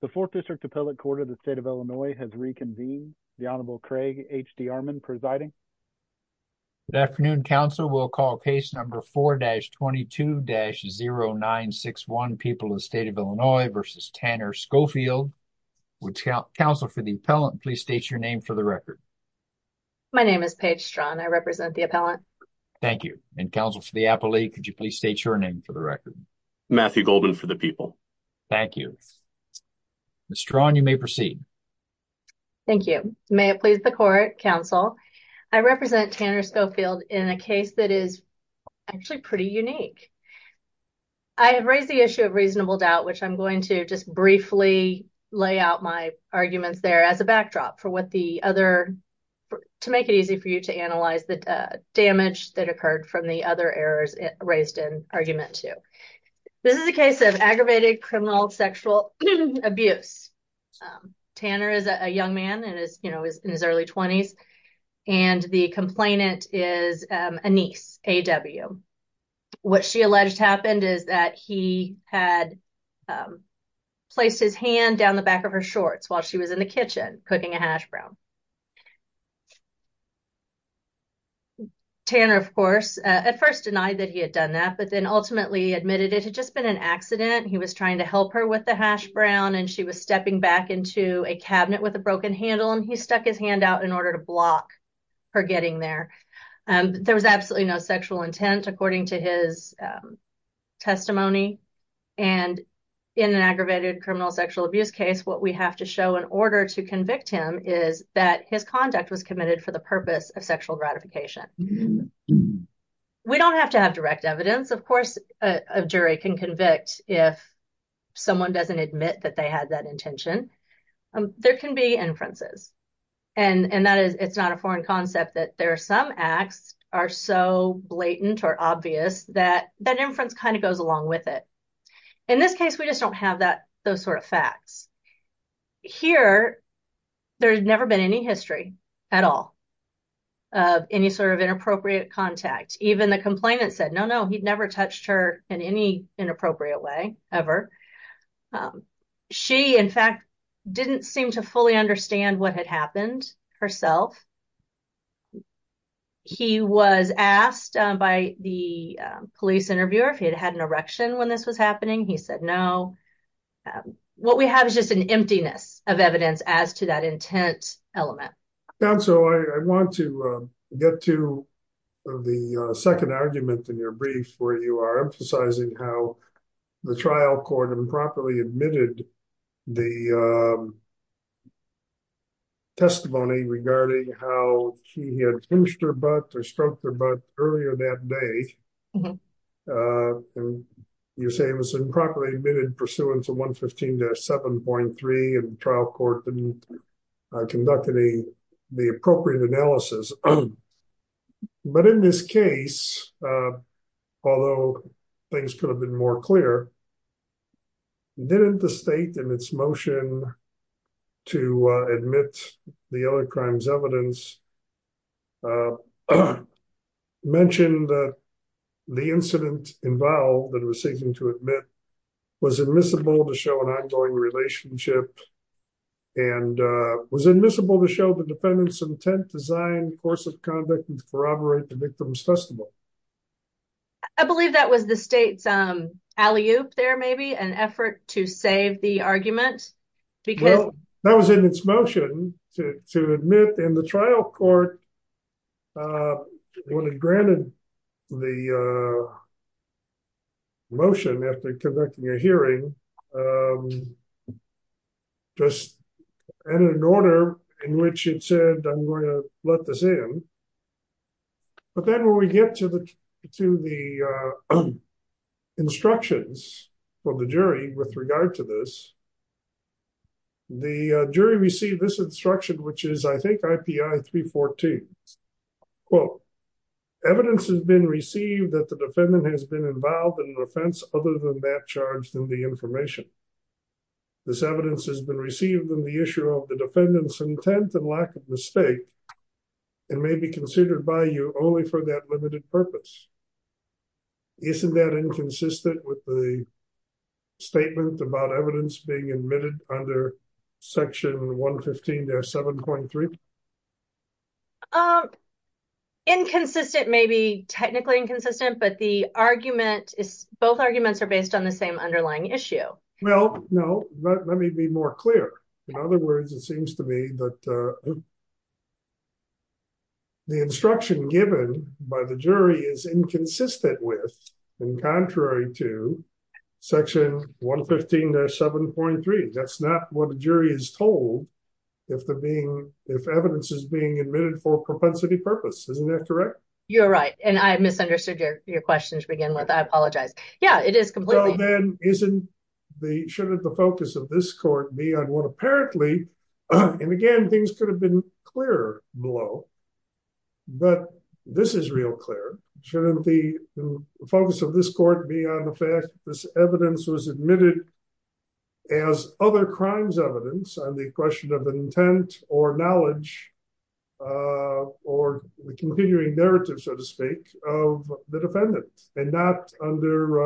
The 4th District Appellate Court of the State of Illinois has reconvened. The Honorable Craig H.D. Armon presiding. Good afternoon, counsel. We'll call case number 4-22-0961, People of the State of Illinois v. Tanner Schofield. Would counsel for the appellant please state your name for the record? My name is Paige Straughan. I represent the appellant. Thank you. And counsel for the appellate, could you please state your name for the record? Matthew Goldman for the people. Thank you. Ms. Straughan, you may proceed. Thank you. May it please the court, counsel, I represent Tanner Schofield in a case that is actually pretty unique. I have raised the issue of reasonable doubt, which I'm going to just briefly lay out my arguments there as a backdrop for what the other, to make it easy for you to analyze the damage that occurred from the other errors raised in argument 2. This is a case of aggravated criminal sexual abuse. Tanner is a young man and is, you know, in his early 20s, and the complainant is a niece, A.W. What she alleged happened is that he had placed his hand down the back of her shorts while she was in the kitchen cooking a hash brown. Tanner, of course, at first denied that he had done that, but then ultimately admitted it had been an accident. He was trying to help her with the hash brown, and she was stepping back into a cabinet with a broken handle, and he stuck his hand out in order to block her getting there. There was absolutely no sexual intent, according to his testimony. And in an aggravated criminal sexual abuse case, what we have to show in order to convict him is that his conduct was committed for the purpose of sexual gratification. We don't have to have direct evidence. Of course, a jury can convict if someone doesn't admit that they had that intention. There can be inferences, and it's not a foreign concept that there are some acts that are so blatant or obvious that that inference kind of goes along with it. In this case, we just don't have those sort of facts. Here, there's never been any history at all of any sort of inappropriate contact. Even the complainant said, no, no, he'd never touched her in any inappropriate way ever. She, in fact, didn't seem to fully understand what had happened herself. He was asked by the police interviewer if he had had an erection when this was happening. He said, no. What we have is just an emptiness of evidence as to that intent element. Counsel, I want to get to the second argument in your brief where you are emphasizing how the trial court improperly admitted the testimony regarding how he had pinched her butt or stroked her butt earlier that day. You say it was improperly admitted pursuant to 115-7.3, and the trial court didn't conduct the appropriate analysis. But in this case, although things could have been more clear, didn't the state in its motion to admit the other crime's evidence mention that the incident involved that it was seeking to admit was admissible to show an defendant's intent to design coercive conduct and corroborate the victim's testimony? I believe that was the state's alley-oop there, maybe, an effort to save the argument. That was in its motion to admit in the trial court when it granted the motion after conducting a hearing, just added an order in which it said, I'm going to let this in. But then when we get to the instructions from the jury with regard to this, the jury received this instruction, which is, I think, IPI-314. Quote, evidence has been received that the defendant has been involved in an offense other than that charged in the information. This evidence has been received on the issue of the defendant's intent and lack of mistake and may be considered by you only for that limited purpose. Isn't that inconsistent with the statement about evidence being admitted under section 115-7.3? Inconsistent, maybe technically inconsistent, but the argument is, both arguments are based on the same underlying issue. Well, no, let me be more clear. In other words, it seems to me that the instruction given by the jury is inconsistent with and contrary to section 115-7.3. That's not what the jury is told if evidence is being admitted for propensity purpose. Isn't that correct? You're right. And I misunderstood your question to begin with. I apologize. Yeah, it is completely. Shouldn't the focus of this court be on what apparently, and again, things could have been clearer below, but this is real clear. Shouldn't the the question of intent or knowledge or the continuing narrative, so to speak, of the defendant and not under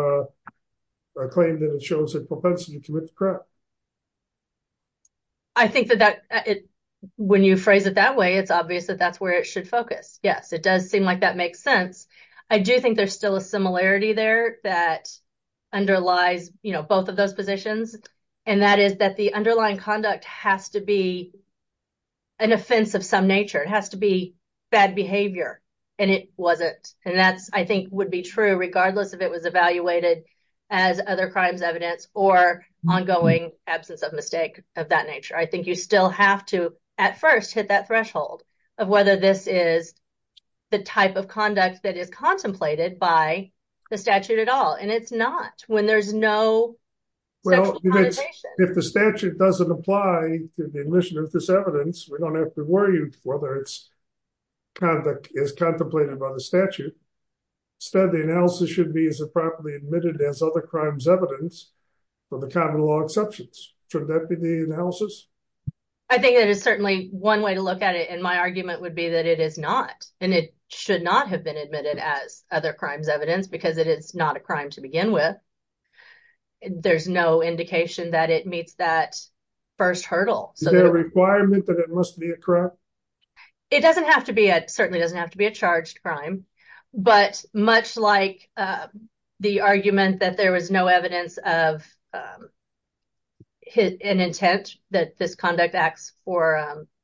a claim that it shows a propensity to commit the crime? I think that when you phrase it that way, it's obvious that that's where it should focus. Yes, it does seem like that makes sense. I do think there's still a similarity there that underlies both of those positions, and that is that the underlying conduct has to be an offense of some nature. It has to be bad behavior, and it wasn't. And that, I think, would be true regardless if it was evaluated as other crimes evidence or ongoing absence of mistake of that nature. I think you still have to, at first, hit that threshold of whether this is the type of conduct that is contemplated by the statute at all, and it's not when there's no Well, if the statute doesn't apply to the admission of this evidence, we don't have to worry whether its conduct is contemplated by the statute. Instead, the analysis should be as a properly admitted as other crimes evidence for the common law exceptions. Should that be the analysis? I think that is certainly one way to look at it, and my argument would be that it is not, and it should not have been admitted as other crimes evidence because it is not a crime to begin with. There's no indication that it meets that first hurdle. Is there a requirement that it must be a crime? It doesn't have to be. It certainly doesn't have to be a charged crime, but much like the argument that there was no evidence of an intent that this conduct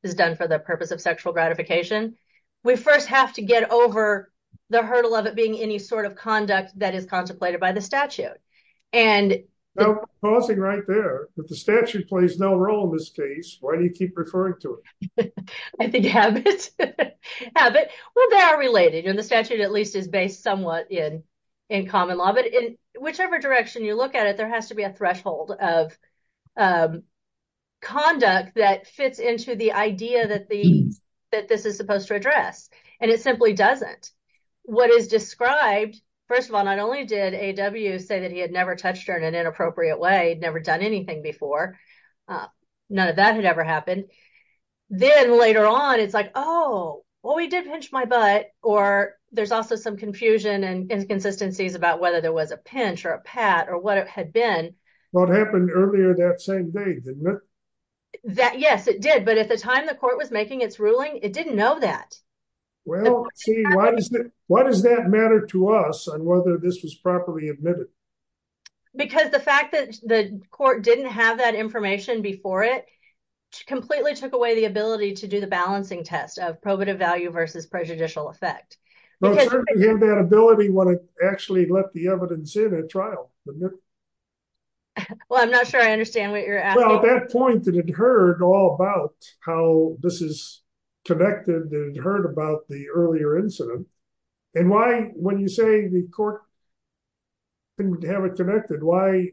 is done for the purpose of sexual gratification, we first have to get over the hurdle of it being any sort of conduct that is contemplated by the statute. Pausing right there. If the statute plays no role in this case, why do you keep referring to I think habit? Well, they are related, and the statute at least is based somewhat in common law, but in whichever direction you look at it, there has to be a threshold of conduct that fits into the idea that this is supposed to address, and it simply doesn't. What is described, first of all, not only did A.W. say that he had never touched her in an Then later on, it's like, oh, well, we did pinch my butt, or there's also some confusion and inconsistencies about whether there was a pinch or a pat or what it had been. What happened earlier that same day, didn't it? Yes, it did, but at the time the court was making its ruling, it didn't know that. Well, see, why does that matter to us on whether this was properly admitted? Because the fact that the court didn't have that information before it completely took away the ability to do the balancing test of probative value versus prejudicial effect. Well, certainly, you have that ability when it actually left the evidence in at trial. Well, I'm not sure I understand what you're asking. Well, at that point, it had heard all about how this is connected and heard about the earlier incident, and why when you say the court didn't have it connected, why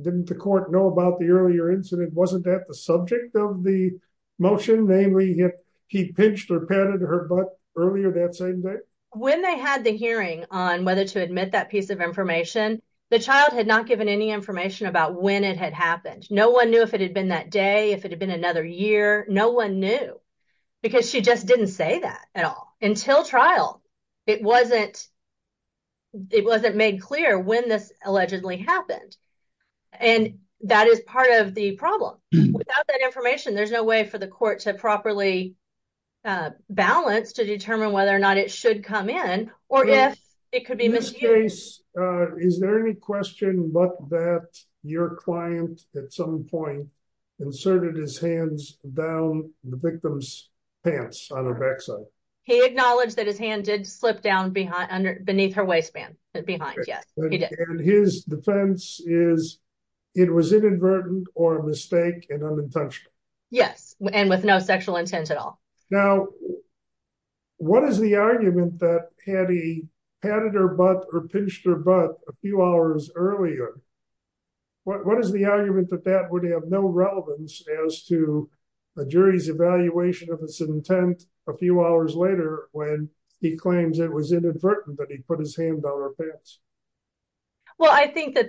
didn't the court know about the earlier incident? Wasn't that the subject of the motion? Namely, he pinched or patted her butt earlier that same day? When they had the hearing on whether to admit that piece of information, the child had not given any information about when it had happened. No one knew if it had been that day, if it had been another year. No one knew, because she just didn't say that at all until trial. It wasn't made clear when this allegedly happened, and that is part of the problem. Without that information, there's no way for the court to properly balance to determine whether or not it should come in, or if it could be misused. In this case, is there any question but that your client at some point inserted his hands down the victim's pants on her backside? He acknowledged that his hand did slip down beneath her waistband behind. Yes, he did. His defense is it was inadvertent or a mistake and unintentional. Yes, and with no sexual intent at all. Now, what is the argument that had he patted her butt or pinched her butt a few hours earlier? What is the argument that that would have no relevance as to a jury's evaluation of its intent a few hours later when he claims it was inadvertent that he put his hand on her pants? Well, I think that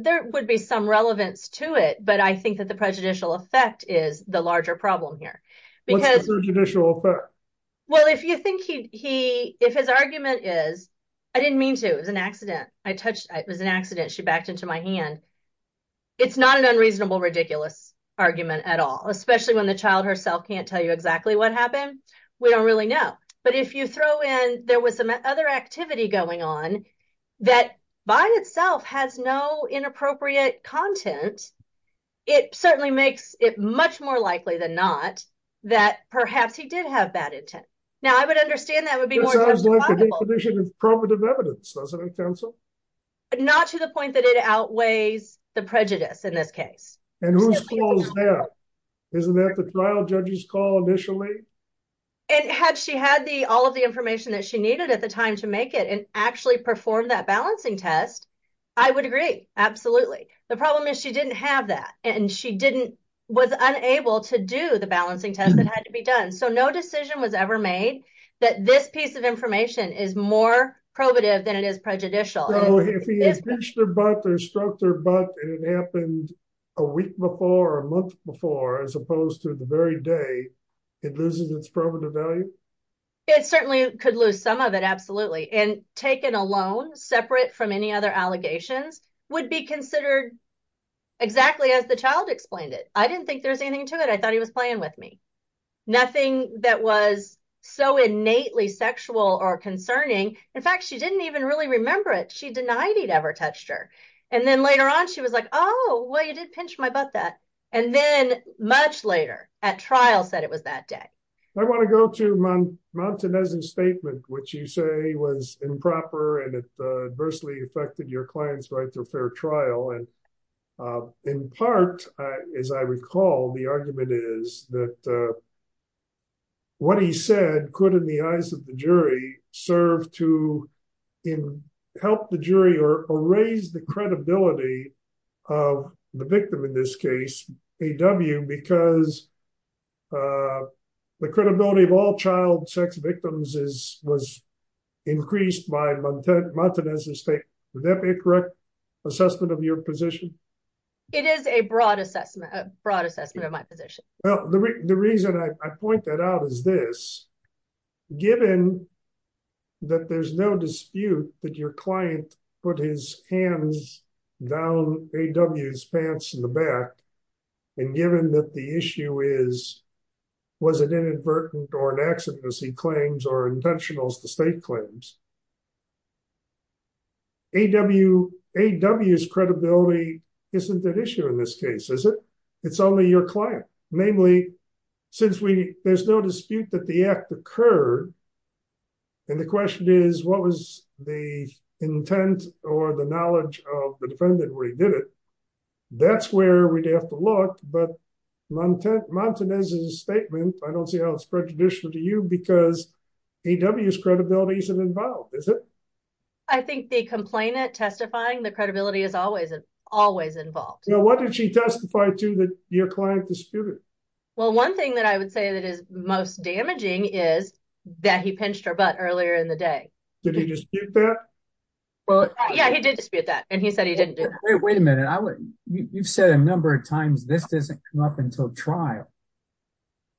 there would be some relevance to it, but I think that the prejudicial effect is the larger problem here. What's the prejudicial effect? Well, if you think he if his argument is, I didn't mean to, it was an accident, I touched, it was an accident, she backed into my hand. It's not an unreasonable, ridiculous argument at all, especially when the child herself can't tell you exactly what happened. We don't really know, but if you throw in there was some other activity going on that by itself has no inappropriate content, it certainly makes it much more likely than not that perhaps he did have bad intent. Now, I would understand that would be... That sounds like a definition of probative evidence, doesn't it, counsel? Not to the point that it outweighs the prejudice in this case. And whose fault is that? Isn't that the trial judge's call initially? And had she had the all of the information that she needed at the time to make it and actually perform that balancing test, I would agree, absolutely. The problem is she didn't have that and she didn't, was unable to do the balancing test that had to be done, so no decision was ever made that this piece of information is more probative than it is prejudicial. If he pinched her butt or struck her butt and it happened a week before or a month before, as opposed to the very day, it loses its probative value? It certainly could lose some of it, absolutely. And taken alone, separate from any other allegations, would be considered exactly as the child explained it. I didn't think there was anything to it. I thought he was playing with me. Nothing that was so innately sexual or concerning. In fact, she didn't even really remember it. She denied he'd ever touched her. And then later on, she was like, oh, well, you did pinch my butt that. And then much later at trial said it was that day. I want to go to Montanez's statement, which you say was improper and it adversely affected your client's right to a fair trial. And in part, as I recall, the argument is that what he said could, in the eyes of the jury, serve to help the jury or raise the credibility of the victim in this case, A.W., because the credibility of all child sex victims was increased by Montanez's statement. Would that be a correct assessment of your position? It is a broad assessment, a broad assessment of my position. Well, the reason I point that out is this. Given that there's no dispute that your client put his hands down A.W.'s pants in the back, and given that the issue is, was it inadvertent or an accident as he claims or intentional as the state claims? A.W.'s credibility isn't at issue in this case, is it? It's only your client. Namely, since there's no dispute that the act occurred, and the question is, what was the intent or the knowledge of the defendant when he did it? That's where we'd have to look. But Montanez's statement, I don't see how it's prejudicial to you because A.W.'s credibility is an advantage. Is it? I think the complainant testifying, the credibility is always involved. Now, what did she testify to that your client disputed? Well, one thing that I would say that is most damaging is that he pinched her butt earlier in the day. Did he dispute that? Yeah, he did dispute that, and he said he didn't do that. Wait a minute. You've said a number of times this doesn't come up until trial.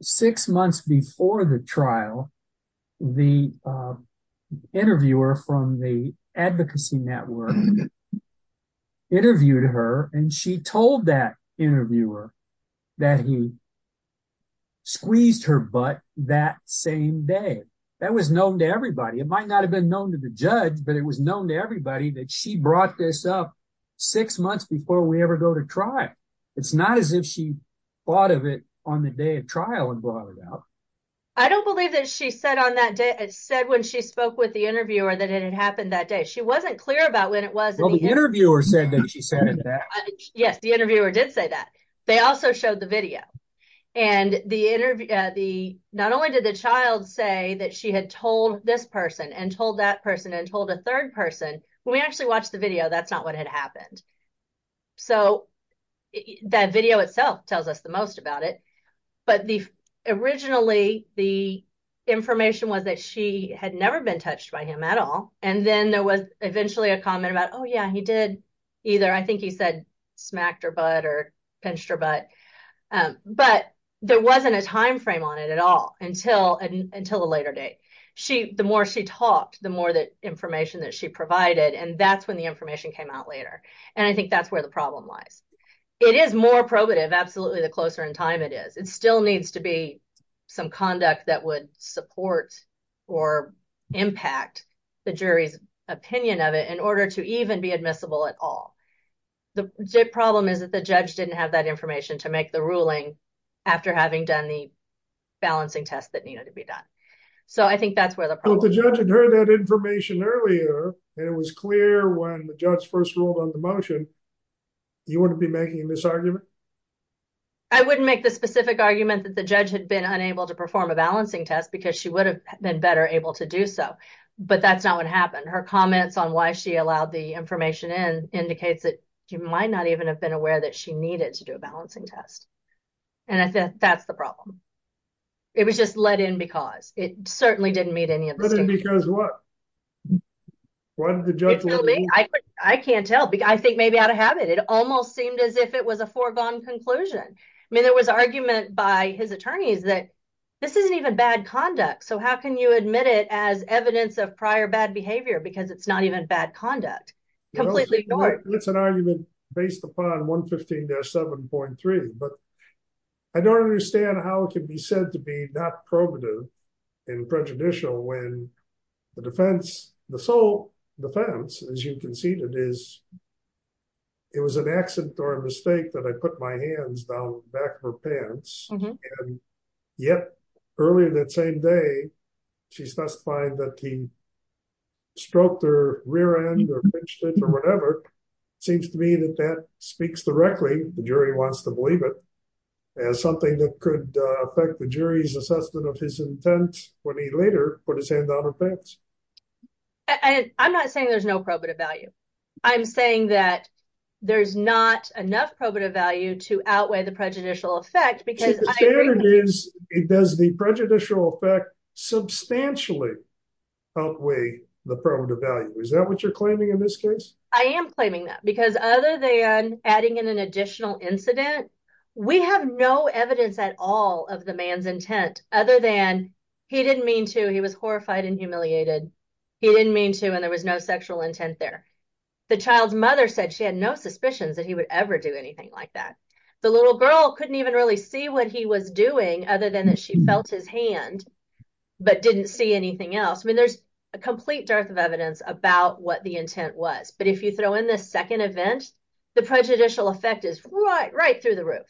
Six months before the trial, the interviewer from the Advocacy Network interviewed her, and she told that interviewer that he squeezed her butt that same day. That was known to everybody. It might not have been known to the judge, but it was known to everybody that she brought this up six months before we ever go to trial. It's not as if she thought of it on the day of trial and brought it up. I don't believe that she said when she spoke with the interviewer that it had happened that day. She wasn't clear about when it was. Well, the interviewer said that she said it then. Yes, the interviewer did say that. They also showed the video. Not only did the child say that she had told this person and told that person and told a third person, when we actually watched the video, that's not what had happened. So, that video itself tells us the most about it. But originally, the information was that she had never been touched by him at all, and then there was eventually a comment about, oh, yeah, he did either, I think he said, smacked her butt or pinched her butt. But there wasn't a timeframe on it at all until a later date. The more she talked, the more information that she provided, and that's when the information came out later. And I think that's where the problem lies. It is more probative, absolutely, the closer in time it is. It still needs to be some conduct that would support or impact the jury's opinion of it in order to even be admissible at all. The problem is that the judge didn't have that information to make the ruling after having done the balancing test that needed to be done. So, I think that's where the problem is. If the judge had heard that information earlier, and it was clear when the judge first ruled on the motion, you wouldn't be making a misargument? I wouldn't make the specific argument that the judge had been unable to perform a balancing test because she would have been better able to do so. But that's not what happened. Her comments on why she allowed the information in indicates that she might not even have been aware that she needed to do a balancing test. And I think that's the problem. It was just let in because. It certainly didn't meet any of the standards. Because what? I can't tell. I think maybe out of habit. It almost seemed as if it was a foregone conclusion. I mean, there was argument by his attorneys that this isn't even bad conduct, so how can you admit it as evidence of prior bad behavior because it's not even bad conduct? Completely ignored. It's an argument based upon 115-7.3, but I don't understand how it can be said to be not probative and prejudicial when the defense, the sole defense, as you conceded, is it was an accident or a mistake that I put my hands down the back of her pants, and yet earlier that same day, she's testifying that he stroked her rear end or pinched it or whatever. Seems to me that that speaks directly, the jury wants to believe it, as something that could affect the jury's assessment of his intent when he later put his hand down her pants. And I'm not saying there's no probative value. I'm saying that there's not enough probative value to outweigh the prejudicial effect because. The standard is, does the prejudicial effect substantially outweigh the probative value? Is that what you're claiming in this case? I am claiming that because other than adding in an additional incident, we have no evidence at all of the man's intent, other than he didn't mean to. He was horrified and humiliated. He didn't mean to, and there was no sexual intent there. The child's mother said she had no suspicions that he would ever do anything like that. The little girl couldn't even really see what he was doing, other than that she felt his hand, but didn't see anything else. I mean, there's a complete dearth of evidence about what the intent was, but if you throw in this second event, the prejudicial effect is right through the roof,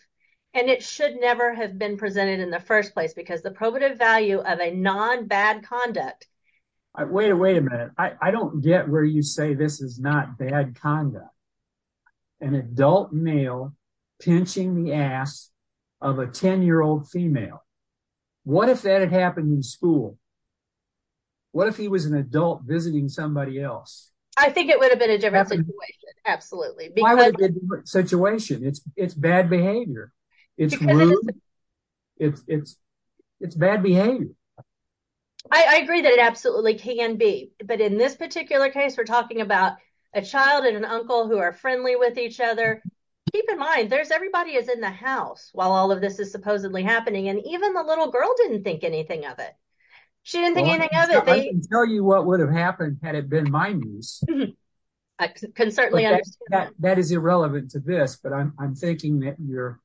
and it should never have been presented in the first place because the probative value of a non-bad conduct. Wait a minute. I don't get where you say this is not bad conduct. An adult male pinching the ass of a 10-year-old female. What if that had happened in school? What if he was an adult visiting somebody else? I think it would have been a different situation. Absolutely. Why would it be a different situation? It's bad behavior. It's rude. It's bad behavior. I agree that it absolutely can be, but in this particular case, we're talking about a child and an uncle who are friendly with each other. Keep in mind, everybody is in the house while all of this is supposedly happening, and even the little girl didn't think anything of it. She didn't think anything of it. I can tell you what would have happened had it been my niece. I can certainly understand that. That is irrelevant to this, but I'm thinking that you're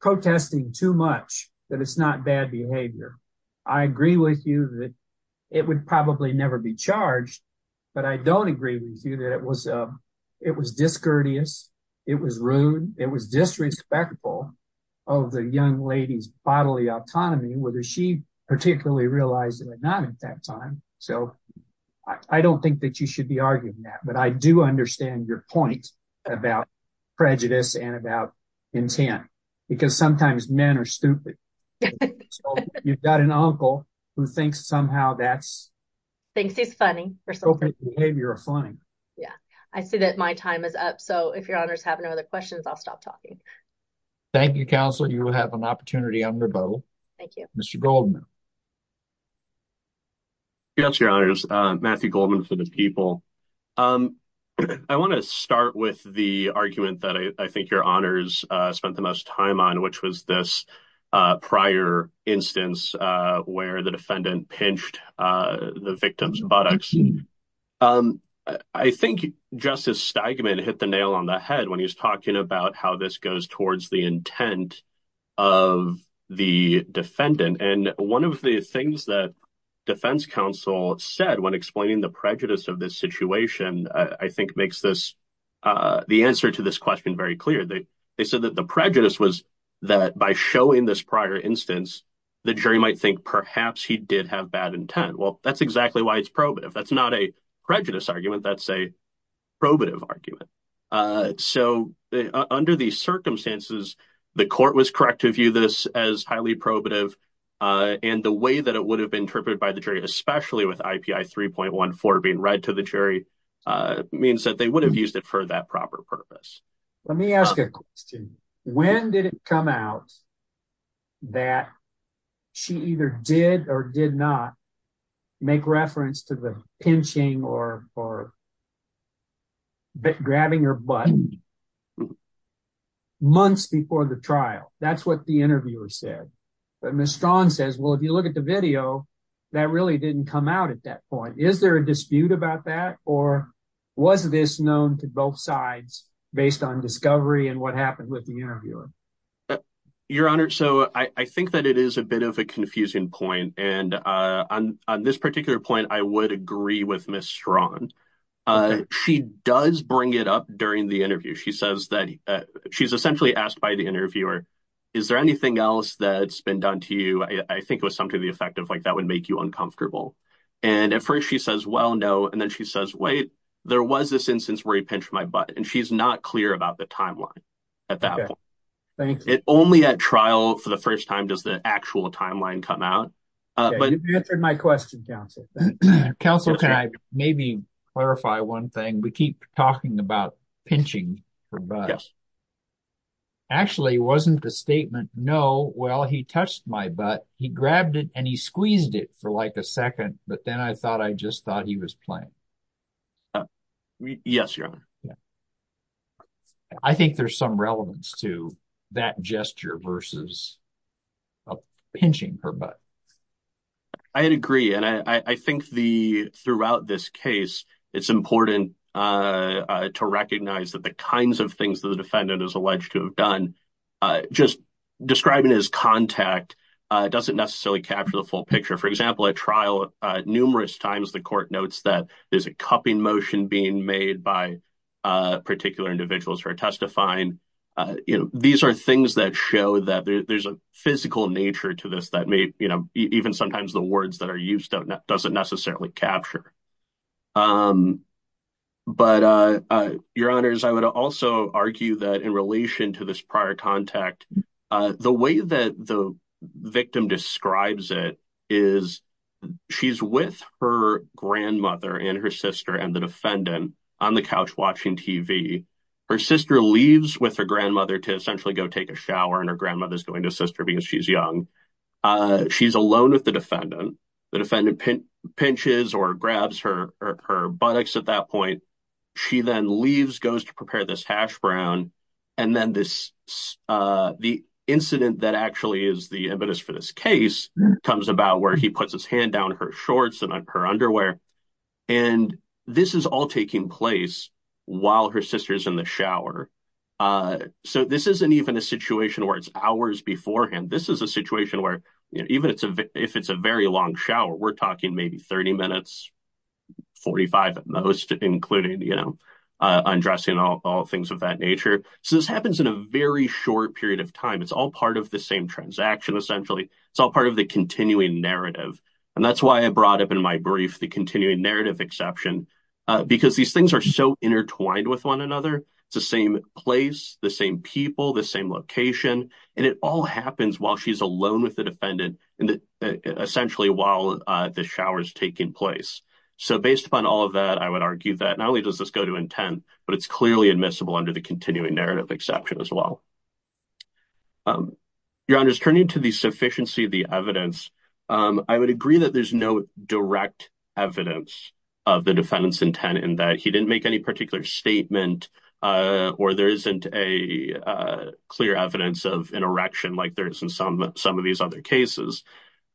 protesting too much that it's not bad behavior. I agree with you that it would probably never be charged, but I don't agree with you that it was discourteous. It was rude. It was disrespectful of the young lady's bodily behavior at that time. I don't think that you should be arguing that, but I do understand your point about prejudice and about intent because sometimes men are stupid. You've got an uncle who thinks somehow that's appropriate behavior or funny. I see that my time is up, so if your honors have no other questions, I'll stop talking. Thank you, counsel. You got your honors. Matthew Goldman for the people. I want to start with the argument that I think your honors spent the most time on, which was this prior instance where the defendant pinched the victim's buttocks. I think Justice Steigman hit the nail on the head when he was talking about how this goes towards the intent of the defendant. One of the things that defense counsel said when explaining the prejudice of this situation I think makes the answer to this question very clear. They said that the prejudice was that by showing this prior instance, the jury might think perhaps he did have bad intent. Well, that's exactly why it's probative. That's not a under these circumstances, the court was correct to view this as highly probative. The way that it would have been interpreted by the jury, especially with IPI 3.14 being read to the jury, means that they would have used it for that proper purpose. Let me ask a question. When did it come out that she either did or did not make reference to the pinching or grabbing her butt? Months before the trial, that's what the interviewer said. But Ms. Strawn says, well, if you look at the video, that really didn't come out at that point. Is there a dispute about that, or was this known to both sides based on discovery and what happened with the interviewer? Your honor, so I think that it is a bit of a confusing point, and on this particular point, I would agree with Ms. Strawn. She does bring it up during the interview. She says that she's essentially asked by the interviewer, is there anything else that's been done to you? I think it was something to the effect of like, that would make you uncomfortable. And at first she says, well, no. And then she says, wait, there was this instance where he pinched my butt. And she's not clear about the timeline at that point. Only at trial for the actual timeline come out. You answered my question, counsel. Counsel, can I maybe clarify one thing? We keep talking about pinching her butt. Actually, it wasn't the statement, no, well, he touched my butt. He grabbed it and he squeezed it for like a second. But then I thought, I just thought he was playing. Yes, your honor. Yeah. I think there's some relevance to that gesture versus pinching her butt. I agree. And I think throughout this case, it's important to recognize that the kinds of things that the defendant is alleged to have done, just describing his contact doesn't necessarily capture the full picture. For example, at trial, numerous times the court notes that there's a particular individuals who are testifying. These are things that show that there's a physical nature to this that may even sometimes the words that are used doesn't necessarily capture. But your honors, I would also argue that in relation to this prior contact, the way that the victim describes it is she's with her grandmother and her sister and the defendant on the couch watching TV. Her sister leaves with her grandmother to essentially go take a shower and her grandmother is going to sister because she's young. She's alone with the defendant. The defendant pinches or grabs her buttocks at that point. She then leaves, goes to prepare this hash brown. And then this the incident that actually is the evidence for this case comes about where he puts his hand down her shorts and her underwear. And this is all taking place while her sister's in the shower. So this isn't even a situation where it's hours beforehand. This is a situation where even if it's a very long shower, we're talking maybe 30 minutes, 45 at most, including undressing all things of that nature. So this happens in a very short period of time. It's all part of the same transaction, essentially. It's all part of the continuing narrative. And that's why I brought up in my brief the continuing narrative exception because these things are so intertwined with one another. It's the same place, the same people, the same location. And it all happens while she's alone with the defendant and essentially while the shower is taking place. So based upon all of that, I would argue that not only does this go to intent, but it's clearly admissible under the sufficiency of the evidence. I would agree that there's no direct evidence of the defendant's intent in that he didn't make any particular statement or there isn't a clear evidence of an erection like there is in some of these other cases.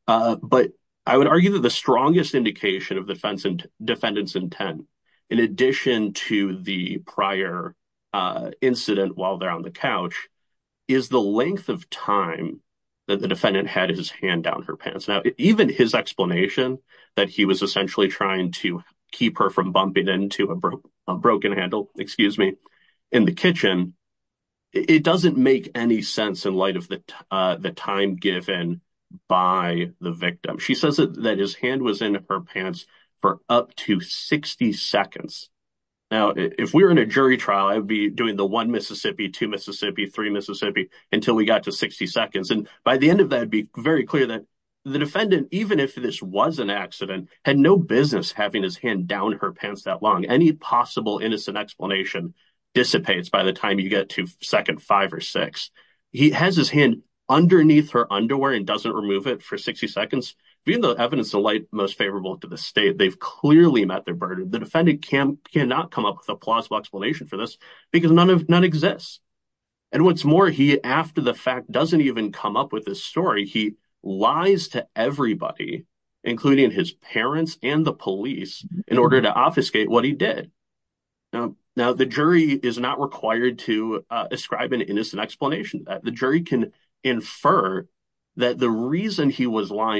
But I would argue that the strongest indication of the defendant's intent, in addition to the prior incident while they're on the couch, is the length of time that the defendant had his hand down her pants. Now, even his explanation that he was essentially trying to keep her from bumping into a broken handle, excuse me, in the kitchen, it doesn't make any sense in light of the time given by the victim. She says that his hand was in her pants for up to 60 seconds. Now, if we were in a jury trial, I'd be doing the one Mississippi, two Mississippi, three Mississippi until we got to 60 seconds. And by the end of that, it'd be very clear that the defendant, even if this was an accident, had no business having his hand down her pants that long. Any possible innocent explanation dissipates by the time you get to second five or six. He has his hand underneath her underwear and doesn't remove it for 60 seconds. Being the evidence of light most favorable to the state, they've clearly met their burden. The defendant can cannot come up with a plausible explanation for this because none of none exists. And what's more, he, after the fact, doesn't even come up with this story. He lies to everybody, including his parents and the police, in order to obfuscate what he did. Now, the jury is not required to ascribe an innocent explanation that the jury can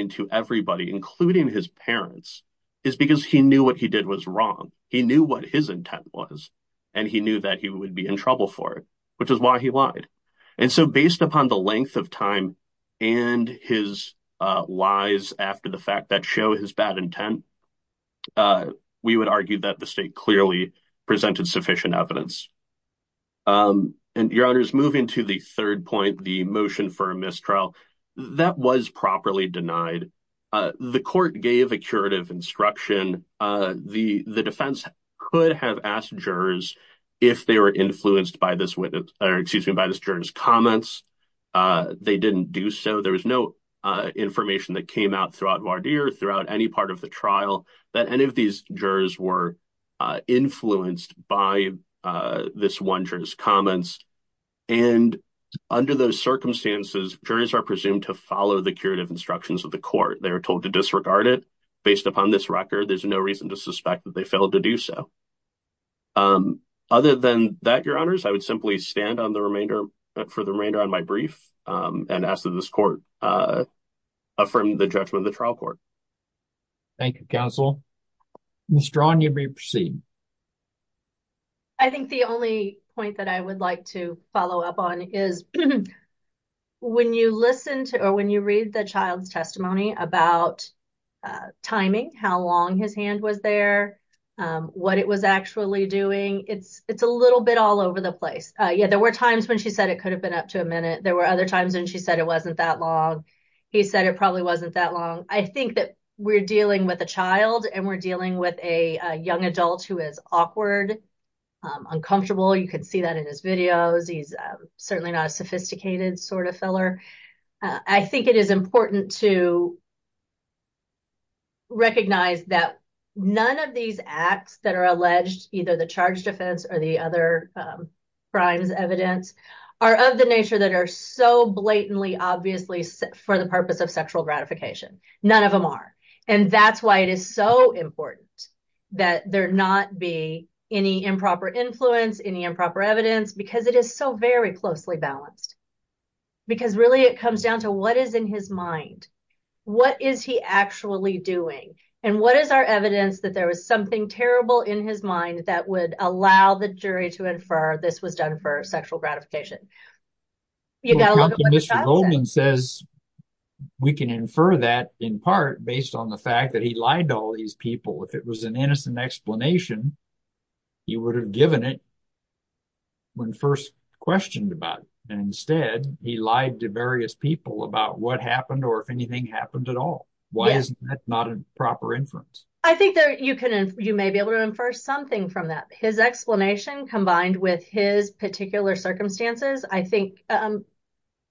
to everybody, including his parents, is because he knew what he did was wrong. He knew what his intent was, and he knew that he would be in trouble for it, which is why he lied. And so, based upon the length of time and his lies after the fact that show his bad intent, we would argue that the state clearly presented sufficient evidence. Um, and your honor is moving to the third point. The motion for a mistrial that was properly denied. The court gave a curative instruction. Uh, the defense could have asked jurors if they were influenced by this witness or excuse me by this jurors comments. Uh, they didn't do so. There was no information that came out throughout throughout any part of the trial that any of these jurors were influenced by this one jurors comments. And under those circumstances, jurors are presumed to follow the curative instructions of the court. They were told to disregard it based upon this record. There's no reason to suspect that they failed to do so. Um, other than that, your honors, I would simply stand on the remainder for the remainder on my brief and asked of this court, uh, from the judgment of the trial court. Thank you. Council strong. You'd be proceeding. I think the only point that I would like to follow up on is when you listen to or when you read the child's testimony about timing, how long his hand was there, um, what it was actually doing. It's, it's a little bit all over the place. Uh, yeah, there were times when she said it could have been up to a minute. There were other times when she said it wasn't that long. He said it probably wasn't that long. I think that we're dealing with a child and we're dealing with a young adult who is awkward, uncomfortable. You can see that in his videos. He's certainly not a sophisticated sort of filler. I think it is important to recognize that none of these acts that are alleged, either the charge defense or the other, um, crimes evidence are of the nature that are so blatantly, obviously for the purpose of sexual gratification, none of them are. And that's why it is so important that there not be any improper influence, any improper evidence, because it is so very closely balanced because really it comes down to what is in his mind. What is he actually doing? And what is our evidence that there was something terrible in his mind that would allow the jury to infer this was done for sexual gratification? You gotta look at what the child said. Mr. Goldman says we can infer that in part based on the fact that he lied to all these people. If it was an innocent explanation, he would have given it when first questioned about it. And instead he lied to various people about what happened or anything happened at all. Why is that not a proper inference? I think that you can, you may be able to infer something from that. His explanation combined with his particular circumstances, I think, um,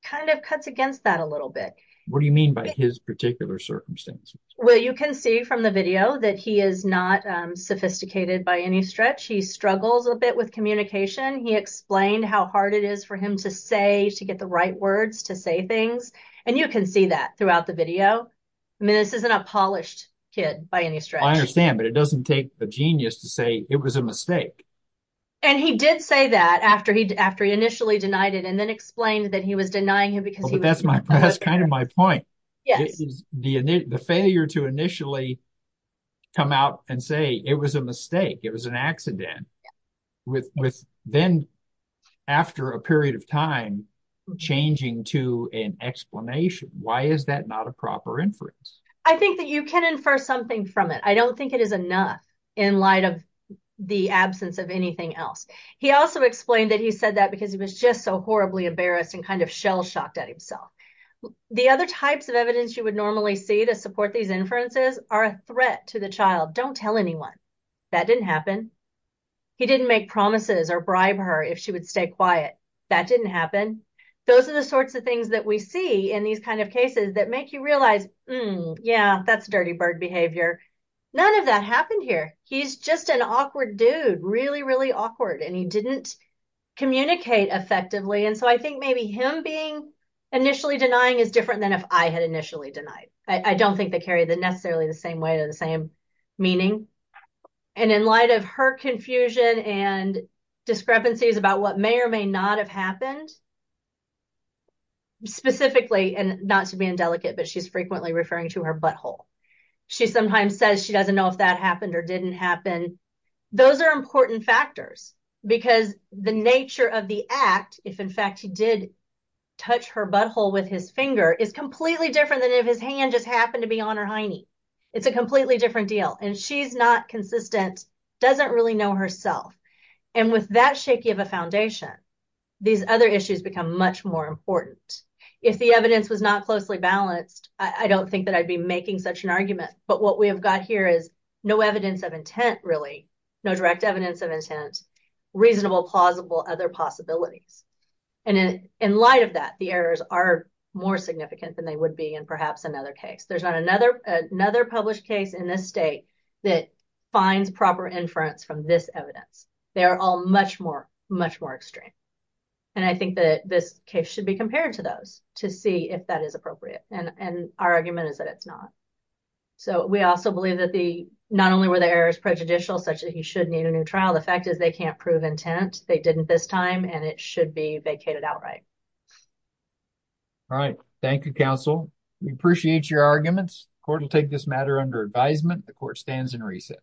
kind of cuts against that a little bit. What do you mean by his particular circumstances? Well, you can see from the video that he is not, um, sophisticated by any stretch. He struggles a bit with communication. He explained how hard it is for him to say, to get the right words, to say things. And you can see that throughout the video. I mean, this isn't a polished kid by any stretch. I understand, but it doesn't take a genius to say it was a mistake. And he did say that after he, after he initially denied it and then explained that he was denying him because he was. That's my, that's kind of my point. Yes. The failure to initially come out and say it was a mistake, it was an accident with, with then after a period of time changing to an explanation. Why is that not a proper inference? I think that you can infer something from it. I don't think it is enough in light of the absence of anything else. He also explained that he said that because he was just so horribly embarrassed and kind of shell-shocked at himself. The other types of evidence you would normally see to support these inferences are a threat to the child. Don't tell anyone. That didn't happen. He didn't make promises or bribe her if she would stay quiet. That didn't happen. Those are the sorts of things that we see in these kind of cases that make you realize, yeah, that's dirty bird behavior. None of that happened here. He's just an awkward dude, really, really awkward. And he didn't communicate effectively. And so I think maybe him being initially denying is different than if I had initially denied. I don't think they carry the necessarily the same weight or the same meaning. And in light of her confusion and discrepancies about what may or may not have happened, specifically, and not to be indelicate, but she's frequently referring to her butthole. She sometimes says she doesn't know if that happened or didn't happen. Those are important factors because the nature of the act, if in fact he did touch her butthole with his finger, is completely different than if his hand just happened to be on her hiney. It's a completely different deal. And she's not consistent, doesn't really know herself. And with that shaky of a foundation, these other issues become much more important. If the evidence was not closely balanced, I don't think that I'd be making such an argument. But what we have got here is no evidence of intent, really, no direct evidence of intent, reasonable, plausible, other possibilities. And in light of that, the errors are more significant than they would be in perhaps another case. There's not another published case in this state that finds proper inference from this evidence. They are all much more extreme. And I think that this case should be compared to those to see if that is appropriate. And our argument is that it's not. So we also believe that not only were the errors prejudicial, such that he should need a new trial, the fact is they can't prove intent. They didn't this time, and it should be vacated outright. All right. Thank you, counsel. We appreciate your arguments. The court will take this matter under advisement. The court stands in recess.